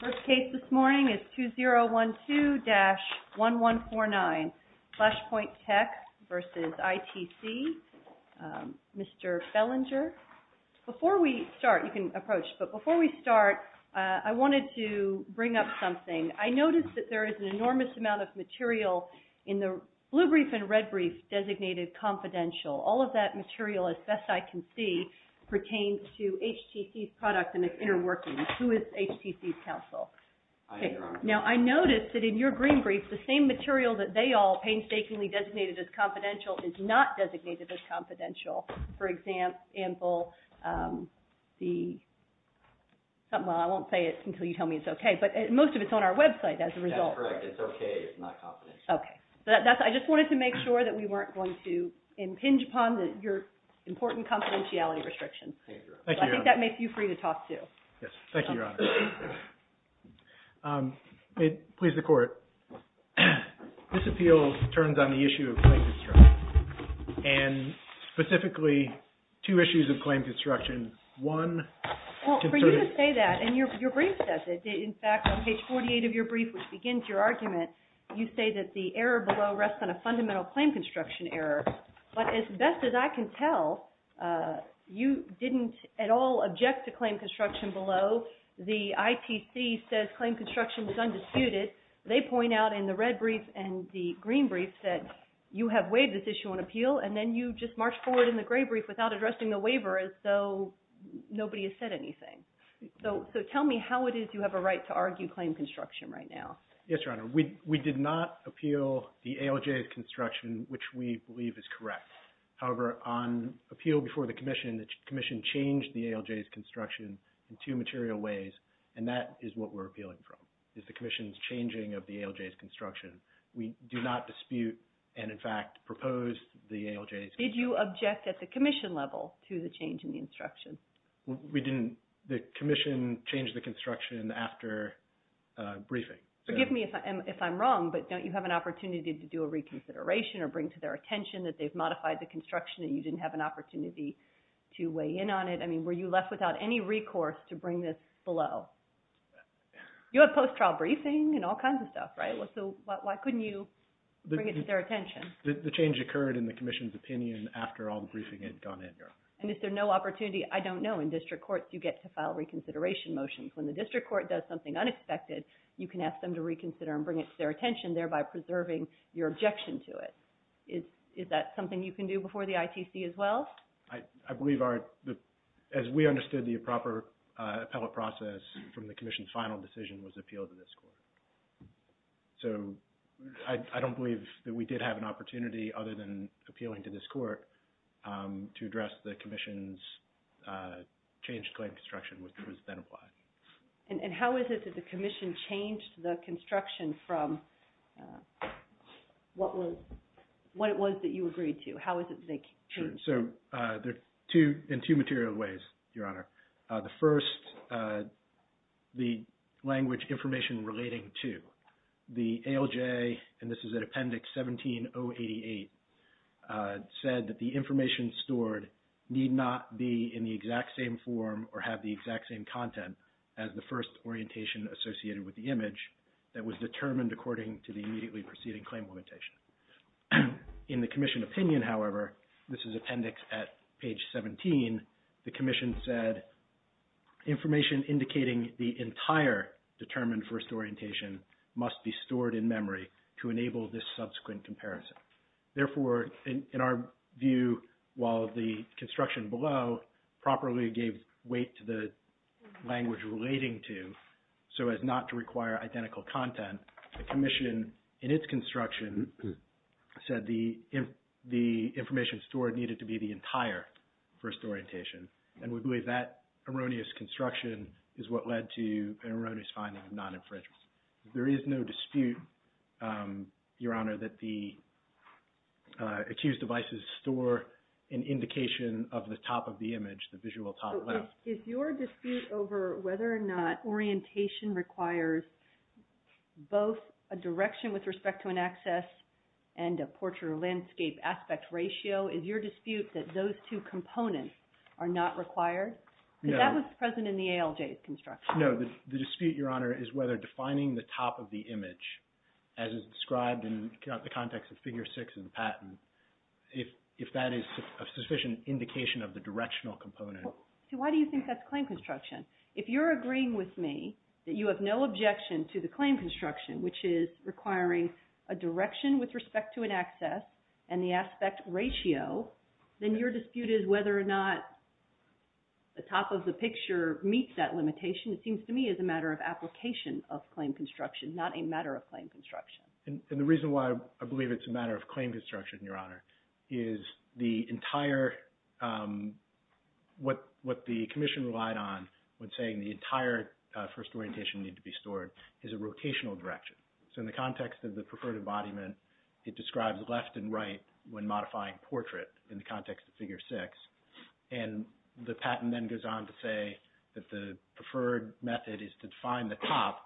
First case this morning is 2012-1149, FLASHPOINT TECH v. ITC, Mr. Fellinger. Before we start, you can approach, but before we start, I wanted to bring up something. I noticed that there is an enormous amount of material in the blue brief and red brief designated confidential. All of that material, as best I can see, pertains to HTC's products and its inter-workings. Who is HTC's counsel? I am, Your Honor. Okay. Now, I noticed that in your green brief, the same material that they all painstakingly designated as confidential is not designated as confidential. For example, the – well, I won't say it until you tell me it's okay, but most of it's on our website as a result. That's correct. It's okay. It's not confidential. Okay. I just wanted to make sure that we weren't going to impinge upon your important confidentiality restrictions. Thank you, Your Honor. So I think that makes you free to talk, too. Yes. Thank you, Your Honor. Please, the Court. This appeal turns on the issue of claim construction and, specifically, two issues of claim construction. One – Well, for you to say that, and your brief says it. In fact, on page 48 of your brief, which begins your argument, you say that the error below rests on a fundamental claim construction error. But as best as I can tell, you didn't at all object to claim construction below. The ITC says claim construction is undisputed. They point out in the red brief and the green brief that you have waived this issue on appeal, and then you just march forward in the gray brief without addressing the waiver as though nobody has said anything. So tell me how it is you have a right to argue claim construction right now. Yes, Your Honor. We did not appeal the ALJ's construction, which we believe is correct. However, on appeal before the Commission, the Commission changed the ALJ's construction in two material ways, and that is what we're appealing from, is the Commission's changing of the ALJ's construction. We do not dispute and, in fact, propose the ALJ's construction. Did you object at the Commission level to the change in the instruction? We didn't. The Commission changed the construction after briefing. Forgive me if I'm wrong, but don't you have an opportunity to do a reconsideration or bring to their attention that they've modified the construction and you didn't have an opportunity to weigh in on it? I mean, were you left without any recourse to bring this below? You have post-trial briefing and all kinds of stuff, right? So why couldn't you bring it to their attention? The change occurred in the Commission's opinion after all the briefing had gone in, Your Honor. And is there no opportunity? I don't know. In district courts, you get to file reconsideration motions. When the district court does something unexpected, you can ask them to reconsider and bring it to their attention, thereby preserving your objection to it. Is that something you can do before the ITC as well? I believe our – as we understood, the proper appellate process from the Commission's final decision was appeal to this court. So I don't believe that we did have an opportunity other than appealing to this court to address the Commission's changed claim construction, which was then applied. And how is it that the Commission changed the construction from what was – what it was that you agreed to? How is it that they changed it? Sure. So there are two – in two material ways, Your Honor. The first, the language information relating to. The ALJ, and this is at Appendix 17-088, said that the information stored need not be in the exact same form or have the exact same content as the first orientation associated with the image that was determined according to the immediately preceding claim orientation. In the Commission opinion, however, this is Appendix at Page 17, the Commission said, information indicating the entire determined first orientation must be stored in memory to enable this subsequent comparison. Therefore, in our view, while the construction below properly gave weight to the language relating to, so as not to require identical content, the Commission in its construction said the information stored needed to be the entire first orientation. And we believe that erroneous construction is what led to an erroneous finding of non-infringement. There is no dispute, Your Honor, that the accused devices store an indication of the top of the image, the visual top left. So is your dispute over whether or not orientation requires both a direction with respect to an access and a portrait or landscape aspect ratio, is your dispute that those two components are not required? No. Because that was present in the ALJ's construction. No, the dispute, Your Honor, is whether defining the top of the image as is described in the context of Figure 6 in the patent, if that is a sufficient indication of the directional component. So why do you think that's claim construction? If you're agreeing with me that you have no objection to the claim construction, which is requiring a direction with respect to an aspect ratio, then your dispute is whether or not the top of the picture meets that limitation it seems to me is a matter of application of claim construction, not a matter of claim construction. And the reason why I believe it's a matter of claim construction, Your Honor, is the entire, what the Commission relied on when saying the entire first orientation needed to be stored is a rotational direction. So in the context of the preferred embodiment, it describes left and right when modifying portrait in the context of Figure 6. And the patent then goes on to say that the preferred method is to define the top.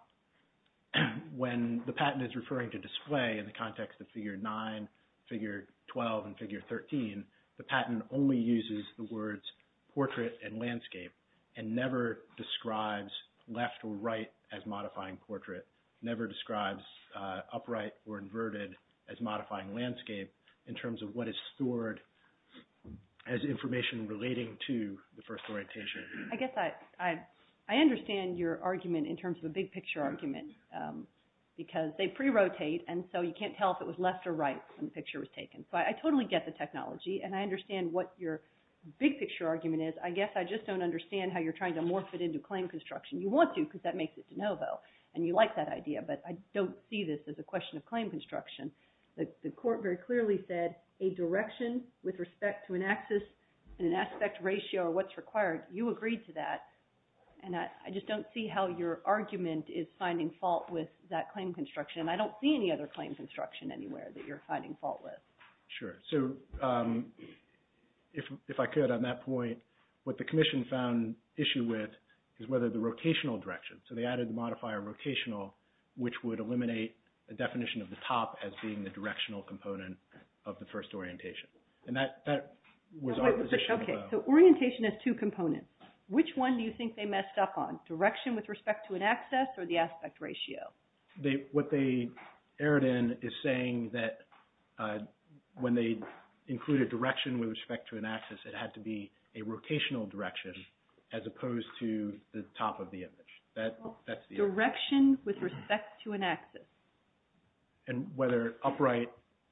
When the patent is referring to display in the context of Figure 9, Figure 12, and Figure 13, the patent only uses the words portrait and landscape and never describes left or right as modifying portrait, never describes upright or inverted as modifying landscape in terms of what is stored as information relating to the first orientation. I guess I understand your argument in terms of a big picture argument because they pre-rotate and so you can't tell if it was left or right when the picture was taken. So I totally get the technology and I understand what your big picture argument is. I guess I just don't understand how you're trying to morph it into claim construction. You want to because that makes it de novo. And you like that idea, but I don't see this as a question of claim construction. The court very clearly said a direction with respect to an axis and an aspect ratio or what's required. You agreed to that. And I just don't see how your argument is finding fault with that claim construction. And I don't see any other claim construction anywhere that you're finding fault with. Sure. So if I could on that point, what the Commission found issue with is whether the rotational direction. So they added the modifier rotational, which would eliminate the definition of the top as being the directional component of the first orientation. And that was our position as well. So orientation has two components. Which one do you think they messed up on? Direction with respect to an axis or the aspect ratio? What they erred in is saying that when they included direction with respect to an axis, it had to be a rotational direction as opposed to the top of the image. That's the... Direction with respect to an axis. And whether upright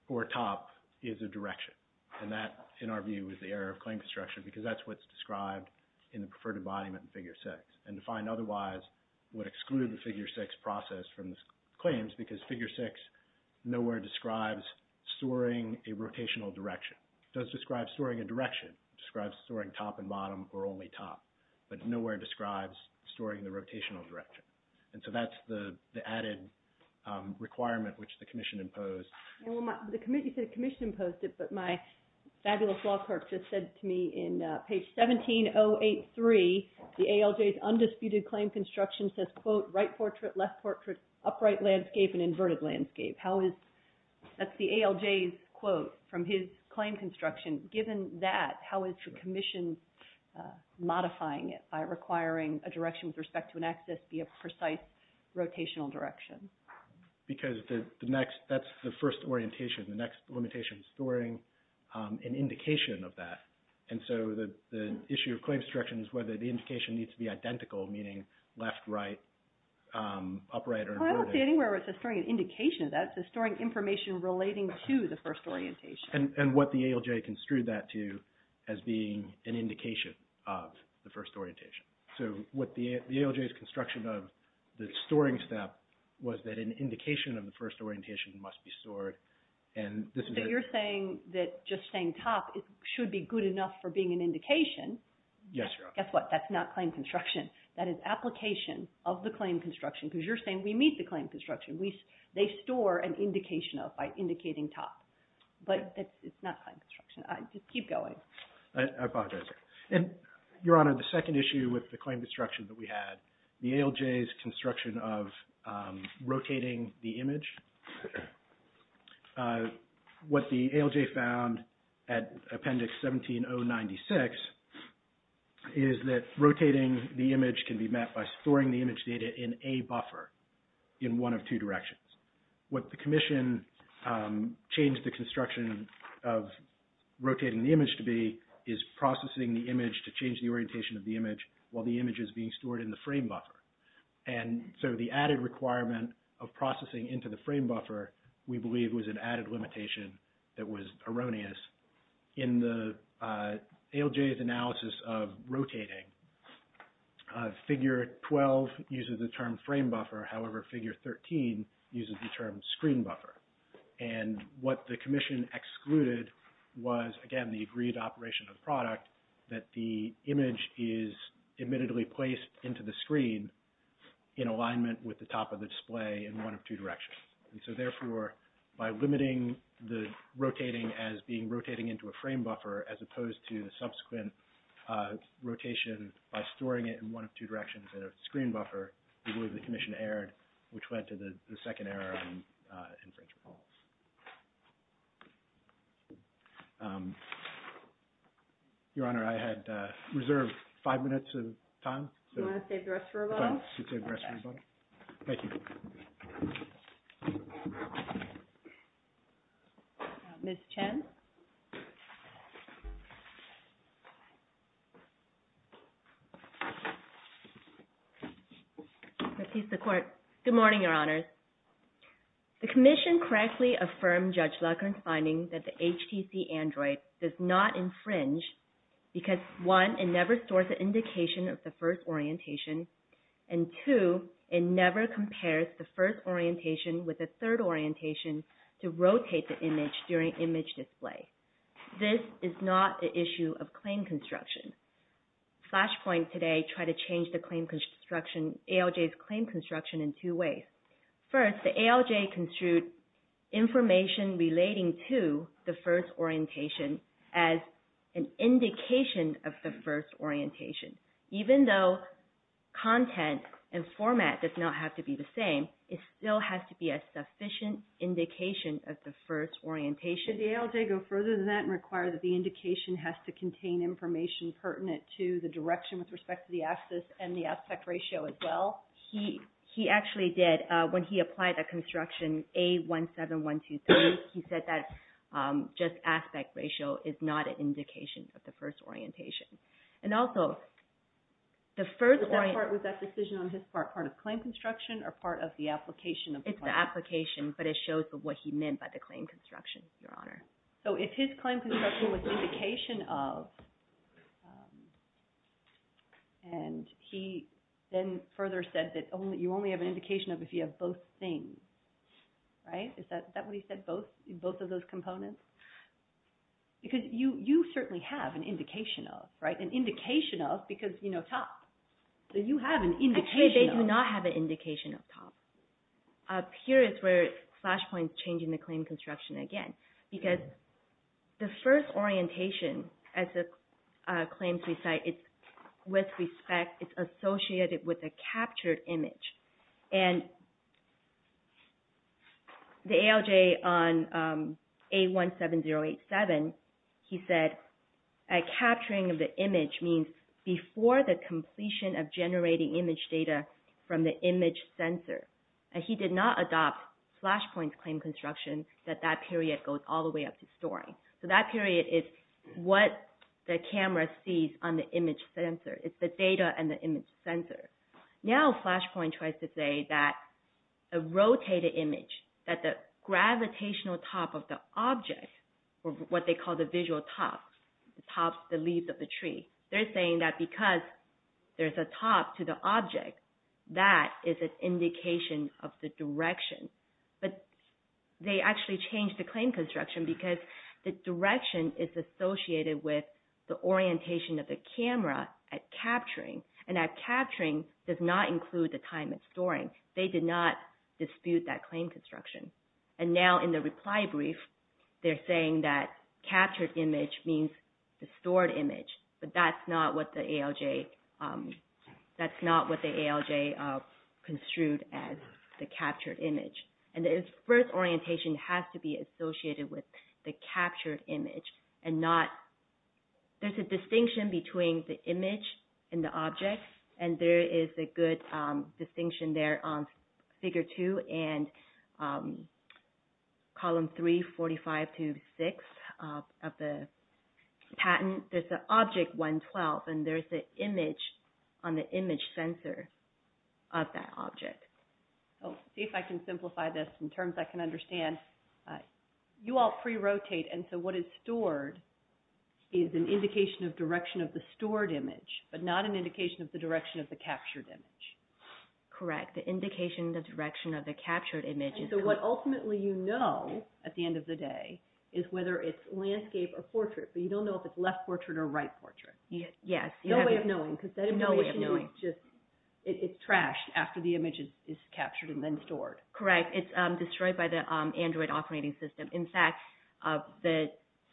or top is a direction. And that, in our view, is the error of claim construction because that's what's described in the Preferred Embodiment in Figure 6. And to find otherwise would exclude the Figure 6 process from the claims because Figure 6 nowhere describes storing a rotational direction. It does describe storing a direction. It describes storing top and bottom or only top. But nowhere describes storing the rotational direction. And so that's the added requirement which the Commission imposed. Well, you said the Commission imposed it, but my fabulous law clerk just said to me in page 17083, the ALJ's undisputed claim construction says, quote, right portrait, left portrait, upright landscape, and inverted landscape. How is... That's the ALJ's quote from his claim construction. Given that, how is the Commission modifying it by requiring a direction with respect to an axis be a precise rotational direction? Because the next... That's the first orientation. The next limitation is storing an indication of that. And so the issue of claims construction is whether the indication needs to be identical, meaning left, right, upright, or inverted. I don't see anywhere where it says storing an indication of that. It says storing information relating to the first orientation. And what the ALJ construed that to as being an indication of the first orientation. So what the ALJ's construction of the storing step was that an indication of the first orientation must be stored. And this is... So you're saying that just saying top should be good enough for being an indication. Yes, Your Honor. Guess what? That's not claim construction. That is application of the claim construction because you're saying we meet the claim construction. They store an indication of by indicating top. But it's not claim construction. Just keep going. I apologize. And Your Honor, the second issue with the claim construction that we had, the is that rotating the image can be met by storing the image data in a buffer in one of two directions. What the commission changed the construction of rotating the image to be is processing the image to change the orientation of the image while the image is being stored in the frame buffer. And so the added requirement of processing into the frame buffer, we believe, was an added limitation that was erroneous in the ALJ's analysis of rotating. Figure 12 uses the term frame buffer. However, figure 13 uses the term screen buffer. And what the commission excluded was, again, the agreed operation of the product that the image is admittedly placed into the screen in alignment with the top of the display in one of two directions. And so, therefore, by limiting the rotating as being rotating into a frame buffer as opposed to the subsequent rotation by storing it in one of two directions in a screen buffer, we believe the commission erred, which led to the second error in infringement policy. Your Honor, I had reserved five minutes of time. Do you want to save the rest for rebuttal? I'll save the rest for rebuttal. Thank you. Ms. Chen? Your Honor, good morning, Your Honors. The commission correctly affirmed Judge Lockhart's finding that the HTC Android does not infringe because, one, it never stores an indication of the first orientation, and, two, it never compares the first orientation with the third orientation to rotate the image during image display. This is not an issue of claim construction. Flashpoint today tried to change the claim construction, ALJ's claim construction, in two ways. First, the ALJ construed information relating to the first orientation as an indication of the first orientation. Even though content and format does not have to be the same, it still has to be a sufficient indication of the first orientation. Did the ALJ go further than that and require that the indication has to contain information pertinent to the direction with respect to the axis and the aspect ratio as well? He actually did. When he applied that construction, A17123, he said that just aspect ratio is not an indication of the first orientation. And also, the first orientation... Was that decision on his part part of claim construction or part of the application of the claim? It's the application, but it shows what he meant by the claim construction, Your Honor. So if his claim construction was an indication of, and he then further said that you only have an indication of if you have both things, right? Is that what he said, both of those things? You certainly have an indication of, right? An indication of because, you know, TOPS. You have an indication of... Actually, they do not have an indication of TOPS. Here is where Flashpoint is changing the claim construction again. Because the first orientation, as the claims recite, it's associated with a captured image. And the ALJ on A17087, he said a capturing of the image means before the completion of generating image data from the image sensor. And he did not adopt Flashpoint's claim construction that that period goes all the way up to storing. So that period is what the camera sees on the image sensor. It's the data and the image sensor. Now Flashpoint tries to say that a rotated image, that the gravitational top of the object, or what they call the visual tops, the tops, the leaves of the tree, they're saying that because there's a top to the object, that is an indication of the direction. But they actually changed the claim construction because the direction is associated with the orientation of the camera at capturing. And that capturing does not include the time it's storing. They did not dispute that claim construction. And now in the reply brief, they're saying that captured image means the stored image. But that's not what the ALJ construed as the first orientation has to be associated with the captured image. And not, there's a distinction between the image and the object. And there is a good distinction there on Figure 2 and Column 3, 45 to 6 of the patent. There's an object 112 and there's an image on the image sensor of that object. Let's see if I can simplify this in terms I can understand. You all pre-rotate and so what is stored is an indication of direction of the stored image, but not an indication of the direction of the captured image. Correct. The indication of the direction of the captured image. So what ultimately you know at the end of the day is whether it's landscape or portrait, but you don't know if it's left portrait or right portrait. Yes. No way of knowing. No way of knowing. It's trashed after the image is captured and then stored. Correct. It's destroyed by the Android operating system. In fact,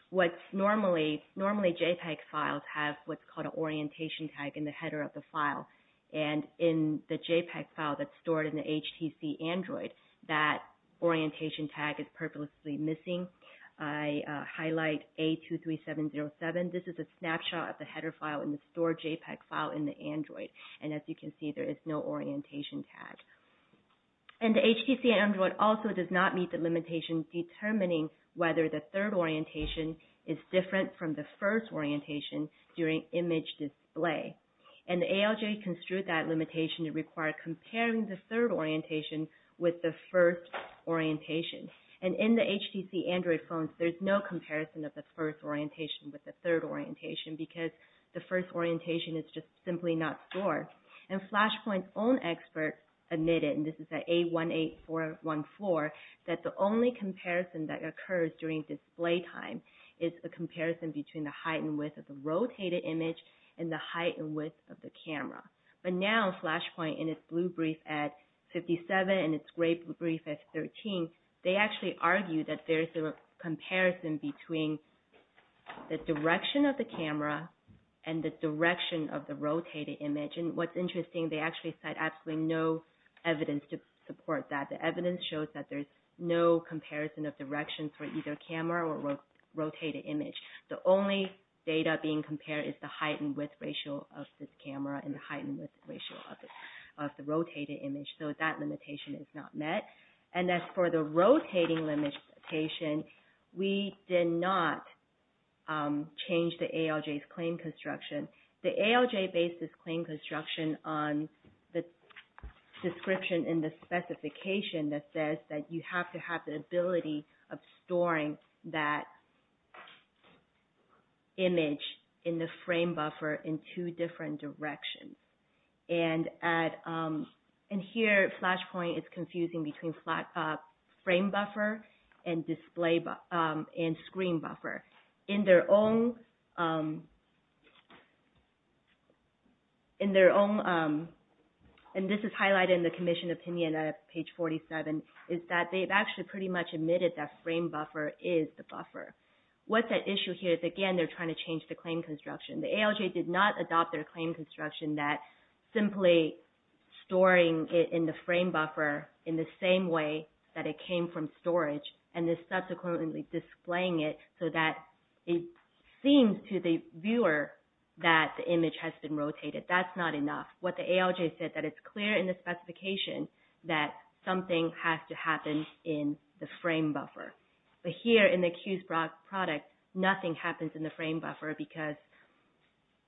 what's normally, normally JPEG files have what's called an orientation tag in the header of the file. And in the JPEG file that's stored in the HTC Android, that orientation tag is purposely missing. I highlight A23707. This is a snapshot of the header file in the stored JPEG file in the Android. And as you can see, there is no orientation tag. And the HTC Android also does not meet the limitations determining whether the third orientation is different from the first orientation during image display. And the ALJ construed that limitation to require comparing the third orientation with the first orientation. And in the HTC Android phones, there's no comparison of the first orientation with the third orientation because the first orientation is just simply not stored. And Flashpoint's own expert admitted, and this is at A18414, that the only comparison that occurs during display time is a comparison between the height and width of the rotated image and the height and width of the camera. But now, Flashpoint in its blue brief at 57 and its gray brief at 13, they actually argue that there's a comparison between the direction of the camera and the direction of the rotated image. And what's interesting, they actually cite absolutely no evidence to support that. The evidence shows that there's no comparison of directions for either camera or rotated image. The only data being compared is the height and width ratio of this camera and the height and width ratio of the rotated image. So that limitation is not met. And as for the rotating limitation, we did not change the ALJ's claim construction. The ALJ based this claim construction on the description in the specification that says that you have to have the ability of storing that image in the frame buffer in two different directions. And here Flashpoint is confusing between frame buffer and screen buffer. In their own, and this is highlighted in the commission opinion at page 47, is that they've actually pretty much admitted that frame buffer is the buffer. What's at issue here is again they're trying to change the claim construction. The ALJ did not adopt their claim construction that simply storing it in the frame buffer in the same way that it came from storage and then subsequently displaying it so that it seems to the viewer that the image has been rotated. That's not enough. What the ALJ said that it's clear in the specification that something has to happen in the frame buffer. But here in the Q's product, nothing happens in the frame buffer because...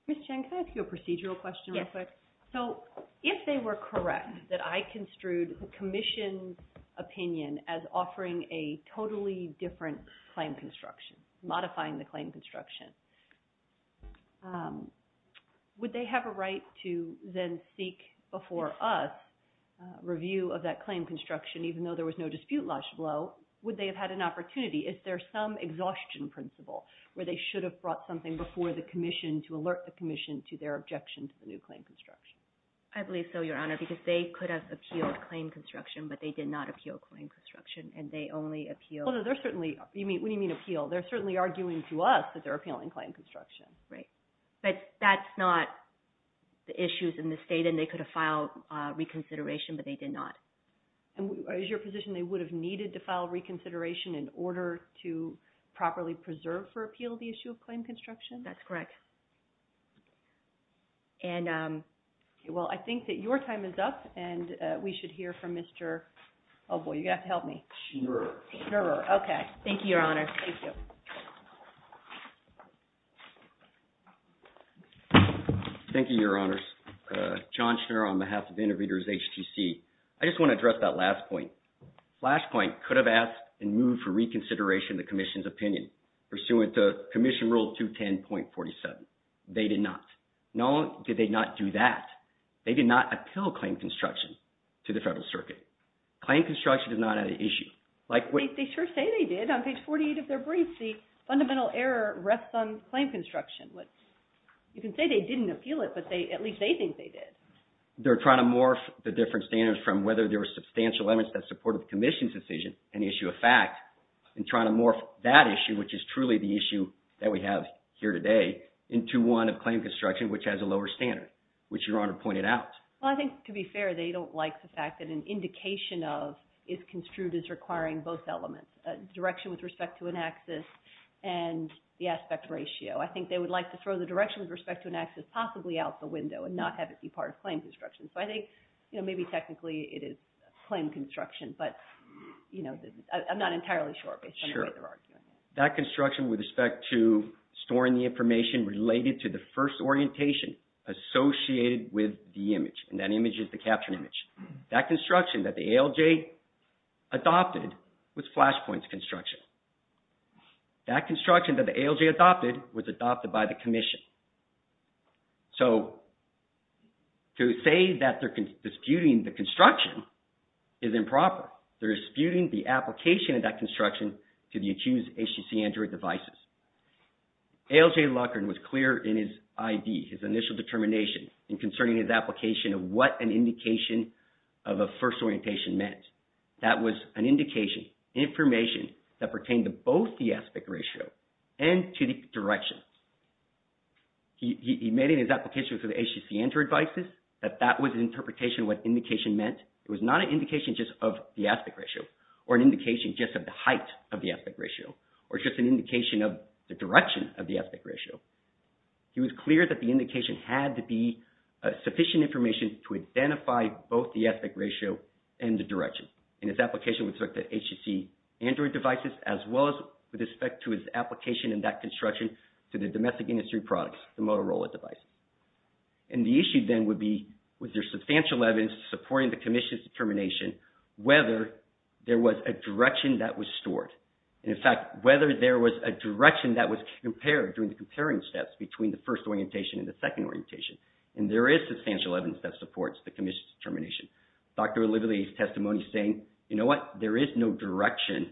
Ms. Chen, can I ask you a procedural question real quick? Yes. So if they were correct that I construed the commission's opinion as offering a totally different claim construction, modifying the claim construction, would they have a right to then seek before us review of that claim construction even though there was no dispute lodge blow? Would they have had an opportunity? Is there some exhaustion principle where they should have brought something before the commission to alert the commission to their objection to the new claim construction? I believe so, Your Honor, because they could have appealed claim construction, but they did not appeal claim construction and they only appealed... What do you mean appeal? They're certainly arguing to us that they're appealing claim construction. Right. But that's not the issues in the state and they could have filed reconsideration, but they did not. Is your position they would have needed to file reconsideration in order to properly preserve for appeal the issue of claim construction? That's correct. Well, I think that your time is up and we should hear from Mr. Oh, boy, you're going to have to help me. Sure. Sure. Okay. Thank you, Your Honor. Thank you. Thank you, Your Honors. John Schnur on behalf of Interpreters HTC. I just want to address that last point. Flashpoint could have asked and moved for reconsideration of the commission's opinion pursuant to Commission Rule 210.47. They did not. Not only did they not do that, they did not appeal claim construction to the Federal Circuit. Claim construction is not an issue. They sure say they did. On page 48 of their brief, the fundamental error rests on claim construction. You can say they didn't appeal it, but at least they think they did. They're trying to morph the different standards from whether there were substantial limits that supported the commission's decision, an issue of fact, and trying to morph that issue, which is truly the issue that we have here today, into one of claim construction which has a lower standard, which Your Honor pointed out. Well, I think to be fair, they don't like the fact that an indication of is construed as requiring both elements, direction with respect to an axis and the aspect ratio. I think they would like to throw the direction with respect to an axis possibly out the window and not have it be part of claim construction. So I think, you know, maybe technically it is claim construction, but, you know, I'm not entirely sure based on the way they're arguing. Sure. That construction with respect to storing the information related to the first orientation associated with the image, and that image is the captured image. That construction that the ALJ adopted was Flashpoint's construction. That construction that the ALJ adopted was adopted by the commission. So to say that they're disputing the construction is improper. They're disputing the application of that construction to the accused HTC Android devices. ALJ Loughran was clear in his ID, his initial determination in concerning his application of what an indication of a first orientation meant. That was an indication, information that pertained to both the aspect ratio and to the direction. He made in his application for the HTC Android devices that that was an interpretation of what indication meant. It was not an indication just of the aspect ratio or an indication just of the height of the aspect ratio or just an indication of the direction of the aspect ratio. He was clear that the indication had to be sufficient information to identify both the aspect ratio and the direction. In his application with respect to HTC Android devices as well as with respect to his application in that construction to the domestic industry products, the Motorola device. And the issue then would be was there substantial evidence supporting the commission's determination whether there was a direction that was stored. In fact, whether there was a direction that was compared during the comparing steps between the first orientation and the second orientation. And there is substantial evidence that supports the commission's determination. Dr. O'Liverly's testimony saying, you know what, there is no direction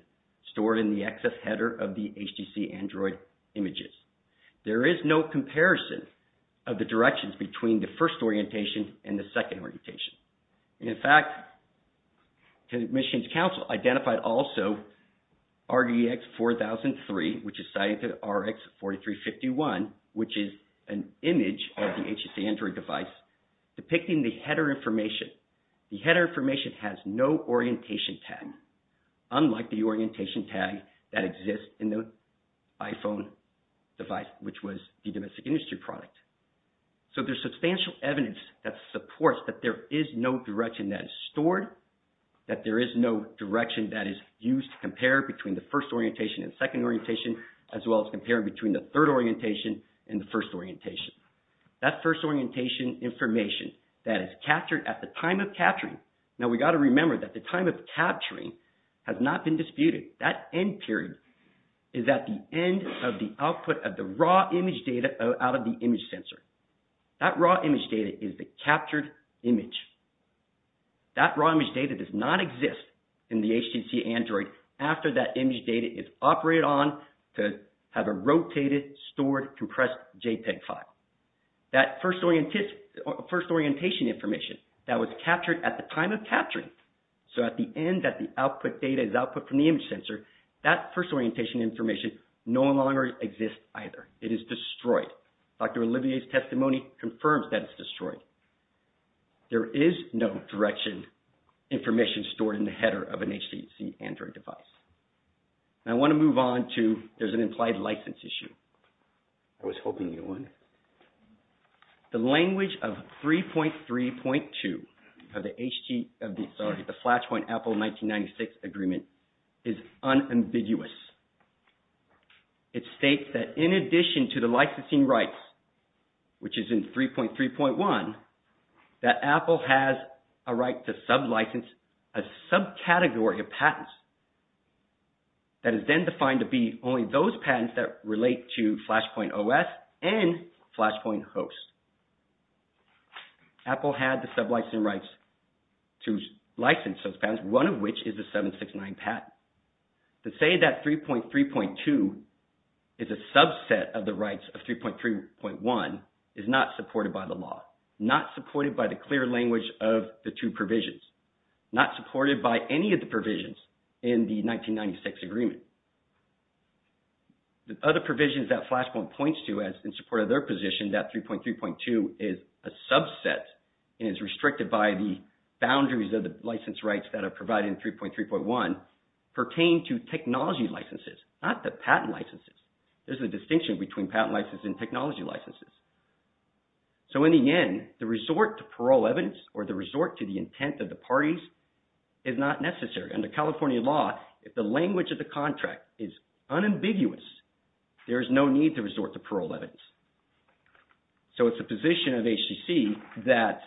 stored in the excess header of the HTC Android images. There is no comparison of the directions between the first orientation and the second orientation. In fact, the commission's counsel identified also RDX4003 which is cited to RX4351 which is an image of the HTC Android device depicting the header information. The header information has no orientation tag unlike the orientation tag that exists in the iPhone device which was the domestic industry product. So, there is substantial evidence that supports that there is no direction that is stored, that there is no direction that is used to compare between the first orientation and second orientation as well as compare between the third orientation and the first orientation. That first orientation information that is captured at the time of capturing, now we got to remember that the time of capturing has not been disputed. That end period is at the end of the output of the raw image data out of the image sensor. That raw image data is the captured image. That raw image data does not exist in the HTC Android after that image data is operated on to have a rotated, stored, compressed JPEG file. That first orientation information that was captured at the time of capturing, so at the end that the output data is output from the image sensor, that first orientation information no longer exists either. It is destroyed. Dr. Olivier's testimony confirms that it's destroyed. There is no direction information stored in the header of an HTC Android device. Now, I want to move on to there's an implied license issue. I was hoping you'd want it. The language of 3.3.2 of the Flashpoint Apple 1996 agreement is unambiguous. It states that in addition to the licensing rights, which is in 3.3.1, that Apple has a right to sublicense a subcategory of patents that is then defined to be only those patents that relate to Flashpoint OS and Flashpoint host. Apple had the sublicense rights to license those patents, one of which is the 769 patent. To say that 3.3.2 is a subset of the rights of 3.3.1 is not supported by the law, not supported by the clear language of the two provisions, not supported by any of the provisions in the 1996 agreement. The other provisions that Flashpoint points to as in support of their position that 3.3.2 is a subset and is restricted by the boundaries of the license rights that are provided in 3.3.1 pertain to technology licenses, not the patent licenses. There's a distinction between patent licenses and technology licenses. So, in the end, the resort to parole evidence or the resort to the intent of the parties is not necessary. Under California law, if the language of the contract is unambiguous, there is no need to resort to parole evidence. So, it's the position of HTC that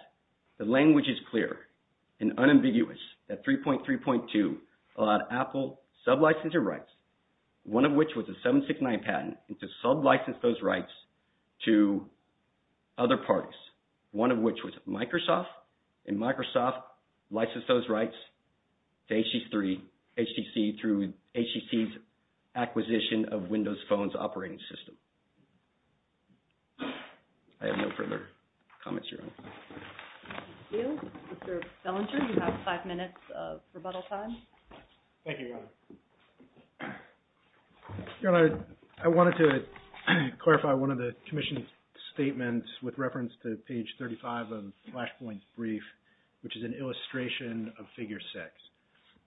the language is clear and unambiguous that 3.3.2 allowed Apple to sublicense their rights, one of which was the 769 patent, and to sublicense those rights to other parties, one of which was Windows Phone's operating system. I have no further comments, Your Honor. Thank you. Mr. Bellinger, you have five minutes of rebuttal time. Thank you, Your Honor. Your Honor, I wanted to clarify one of the commission's statements with reference to page 35 of Flashpoint's brief, which is an illustration of figure six.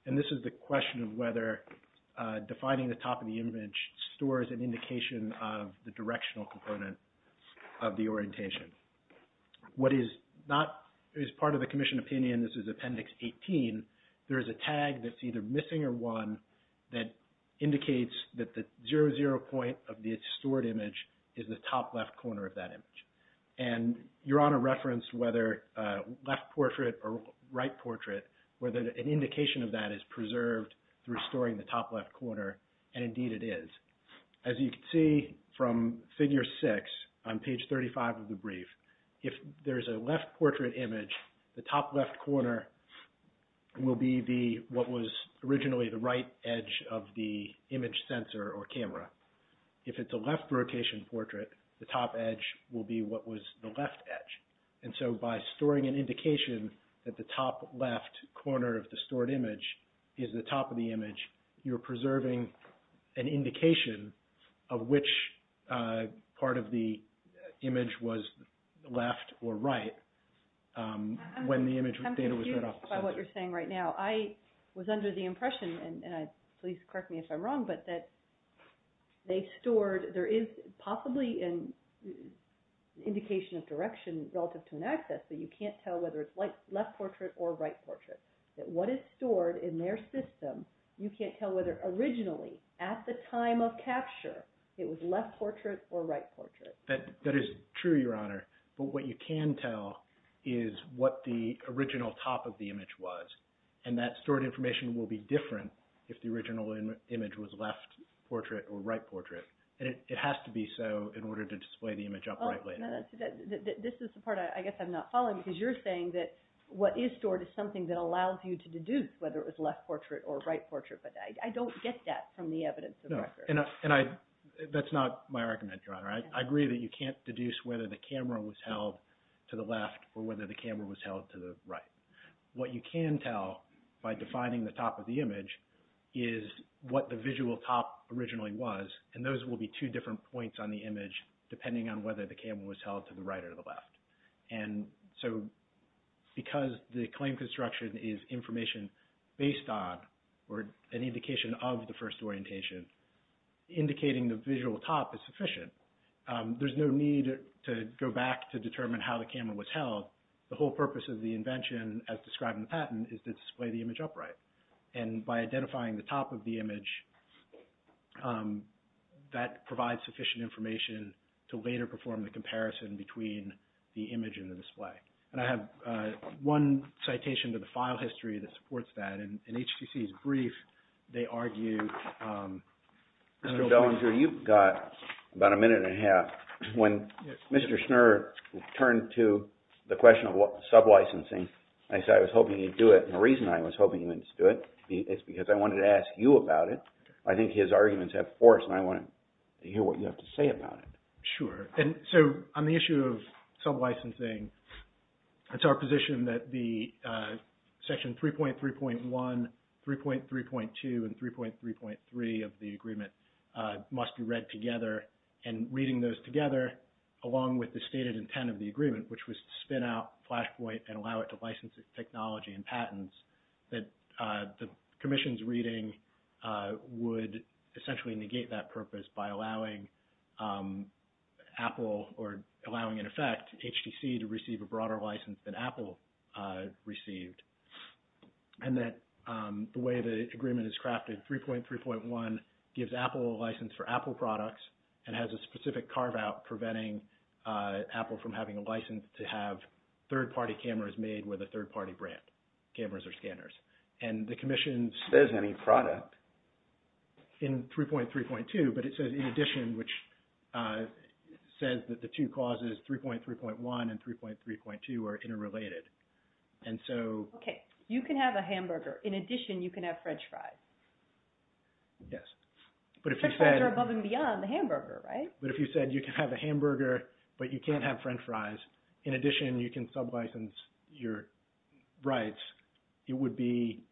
And this is the question of whether defining the top of the image stores an indication of the directional component of the orientation. What is not, is part of the commission opinion, this is Appendix 18, there is a tag that's either missing or one that indicates that the zero, zero point of the stored image is the top left corner of that image. And Your Honor, an indication of that is preserved through storing the top left corner, and indeed it is. As you can see from figure six on page 35 of the brief, if there's a left portrait image, the top left corner will be the, what was originally the right edge of the image sensor or camera. If it's a left rotation portrait, the top edge will be what was the stored image, is the top of the image. You're preserving an indication of which part of the image was left or right when the image data was read off the sensor. I'm confused by what you're saying right now. I was under the impression, and please correct me if I'm wrong, but that they stored, there is possibly an indication of direction relative to an axis, so you can't tell whether it's left portrait or right portrait. What is stored in their system, you can't tell whether originally, at the time of capture, it was left portrait or right portrait. That is true, Your Honor, but what you can tell is what the original top of the image was, and that stored information will be different if the original image was left portrait or right portrait, and it has to be so in order to display the image upright later. This is the part I guess I'm not following, because you're saying that what is stored is something that allows you to deduce whether it was left portrait or right portrait, but I don't get that from the evidence of record. No, and that's not my argument, Your Honor. I agree that you can't deduce whether the camera was held to the left or whether the camera was held to the right. What you can tell by defining the top of the image is what the visual top originally was, and those will be two different points on the image depending on whether the camera was held to the right or the left. And so because the claim construction is information based on or an indication of the first orientation, indicating the visual top is sufficient. There's no need to go back to determine how the camera was held. The whole purpose of the invention as described in the patent is to display the provides sufficient information to later perform the comparison between the image and the display. And I have one citation to the file history that supports that, and HTC's brief, they argue... Mr. Belanger, you've got about a minute and a half. When Mr. Schnurr turned to the question of sublicensing, I said I was hoping you'd do it, and the reason I was hoping you would do it is because I wanted to ask you about it. I think his arguments have force, and I want to hear what you have to say about it. Sure. So on the issue of sublicensing, it's our position that the section 3.3.1, 3.3.2, and 3.3.3 of the agreement must be read together, and reading those together along with the stated intent of the agreement, which was to spin out Flashpoint and allow it to license technology and patents, that the commission's reading would essentially negate that purpose by allowing Apple or allowing, in effect, HTC to receive a broader license than Apple received. And that the way the agreement is crafted, 3.3.1 gives Apple a license for Apple products and has a specific carve-out preventing Apple from having a license to have third-party cameras made with a third-party brand, cameras or scanners. And the commission's... There's no new product. In 3.3.2, but it says in addition, which says that the two causes, 3.3.1 and 3.3.2, are interrelated. And so... Okay. You can have a hamburger. In addition, you can have french fries. Yes. But if you said... French fries are above and beyond the hamburger, right? But if you said you can have a hamburger, but you can't have french fries, in addition you can sub-license your rights, it would be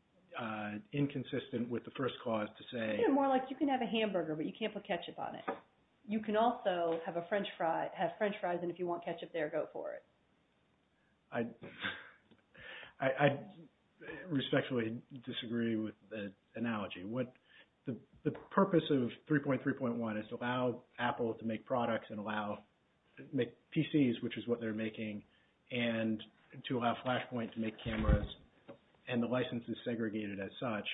inconsistent with the first cause to say... Yeah, more like you can have a hamburger, but you can't put ketchup on it. You can also have french fries, and if you want ketchup there, go for it. I respectfully disagree with the analogy. The purpose of 3.3.1 is to allow Apple to make products and allow... make PCs, which is what they're making, and to allow Flashpoint to make cameras, and the license is segregated as such.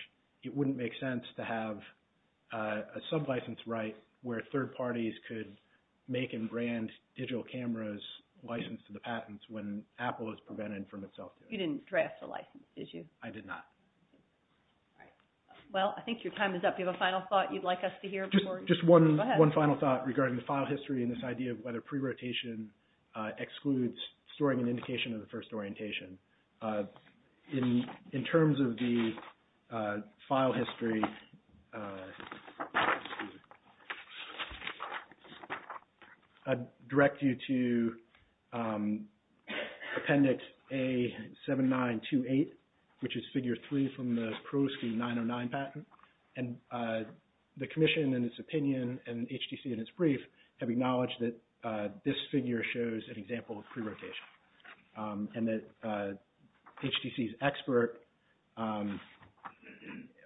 It wouldn't make sense to have a sub-license right where third parties could make and brand digital cameras licensed to the patents when Apple is prevented from itself. You didn't draft the license, did you? I did not. Well, I think your time is up. Do you have a final thought you'd like us to hear? Just one final thought regarding the file history and this idea of whether pre-rotation excludes storing an indication of the first orientation. In terms of the file history, I'd direct you to Appendix A-7928, which is Figure 3 from the Pro Scheme 909 patent, and the Commission in its opinion and HTC in its brief have acknowledged that this figure shows an example of pre-rotation, and that HTC's expert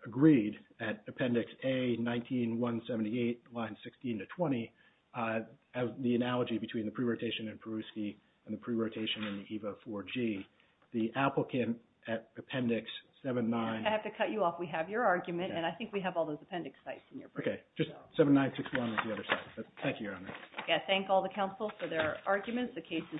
agreed at Appendix A-19178, lines 16 to 20, the analogy between the pre-rotation in Peruski and the pre-rotation in the EVA-4G. The applicant at Appendix 7-9... Okay, just 7-9-6-1 at the other side. Thank you, Your Honor. Okay, I thank all the counsel for their arguments. The case is submitted.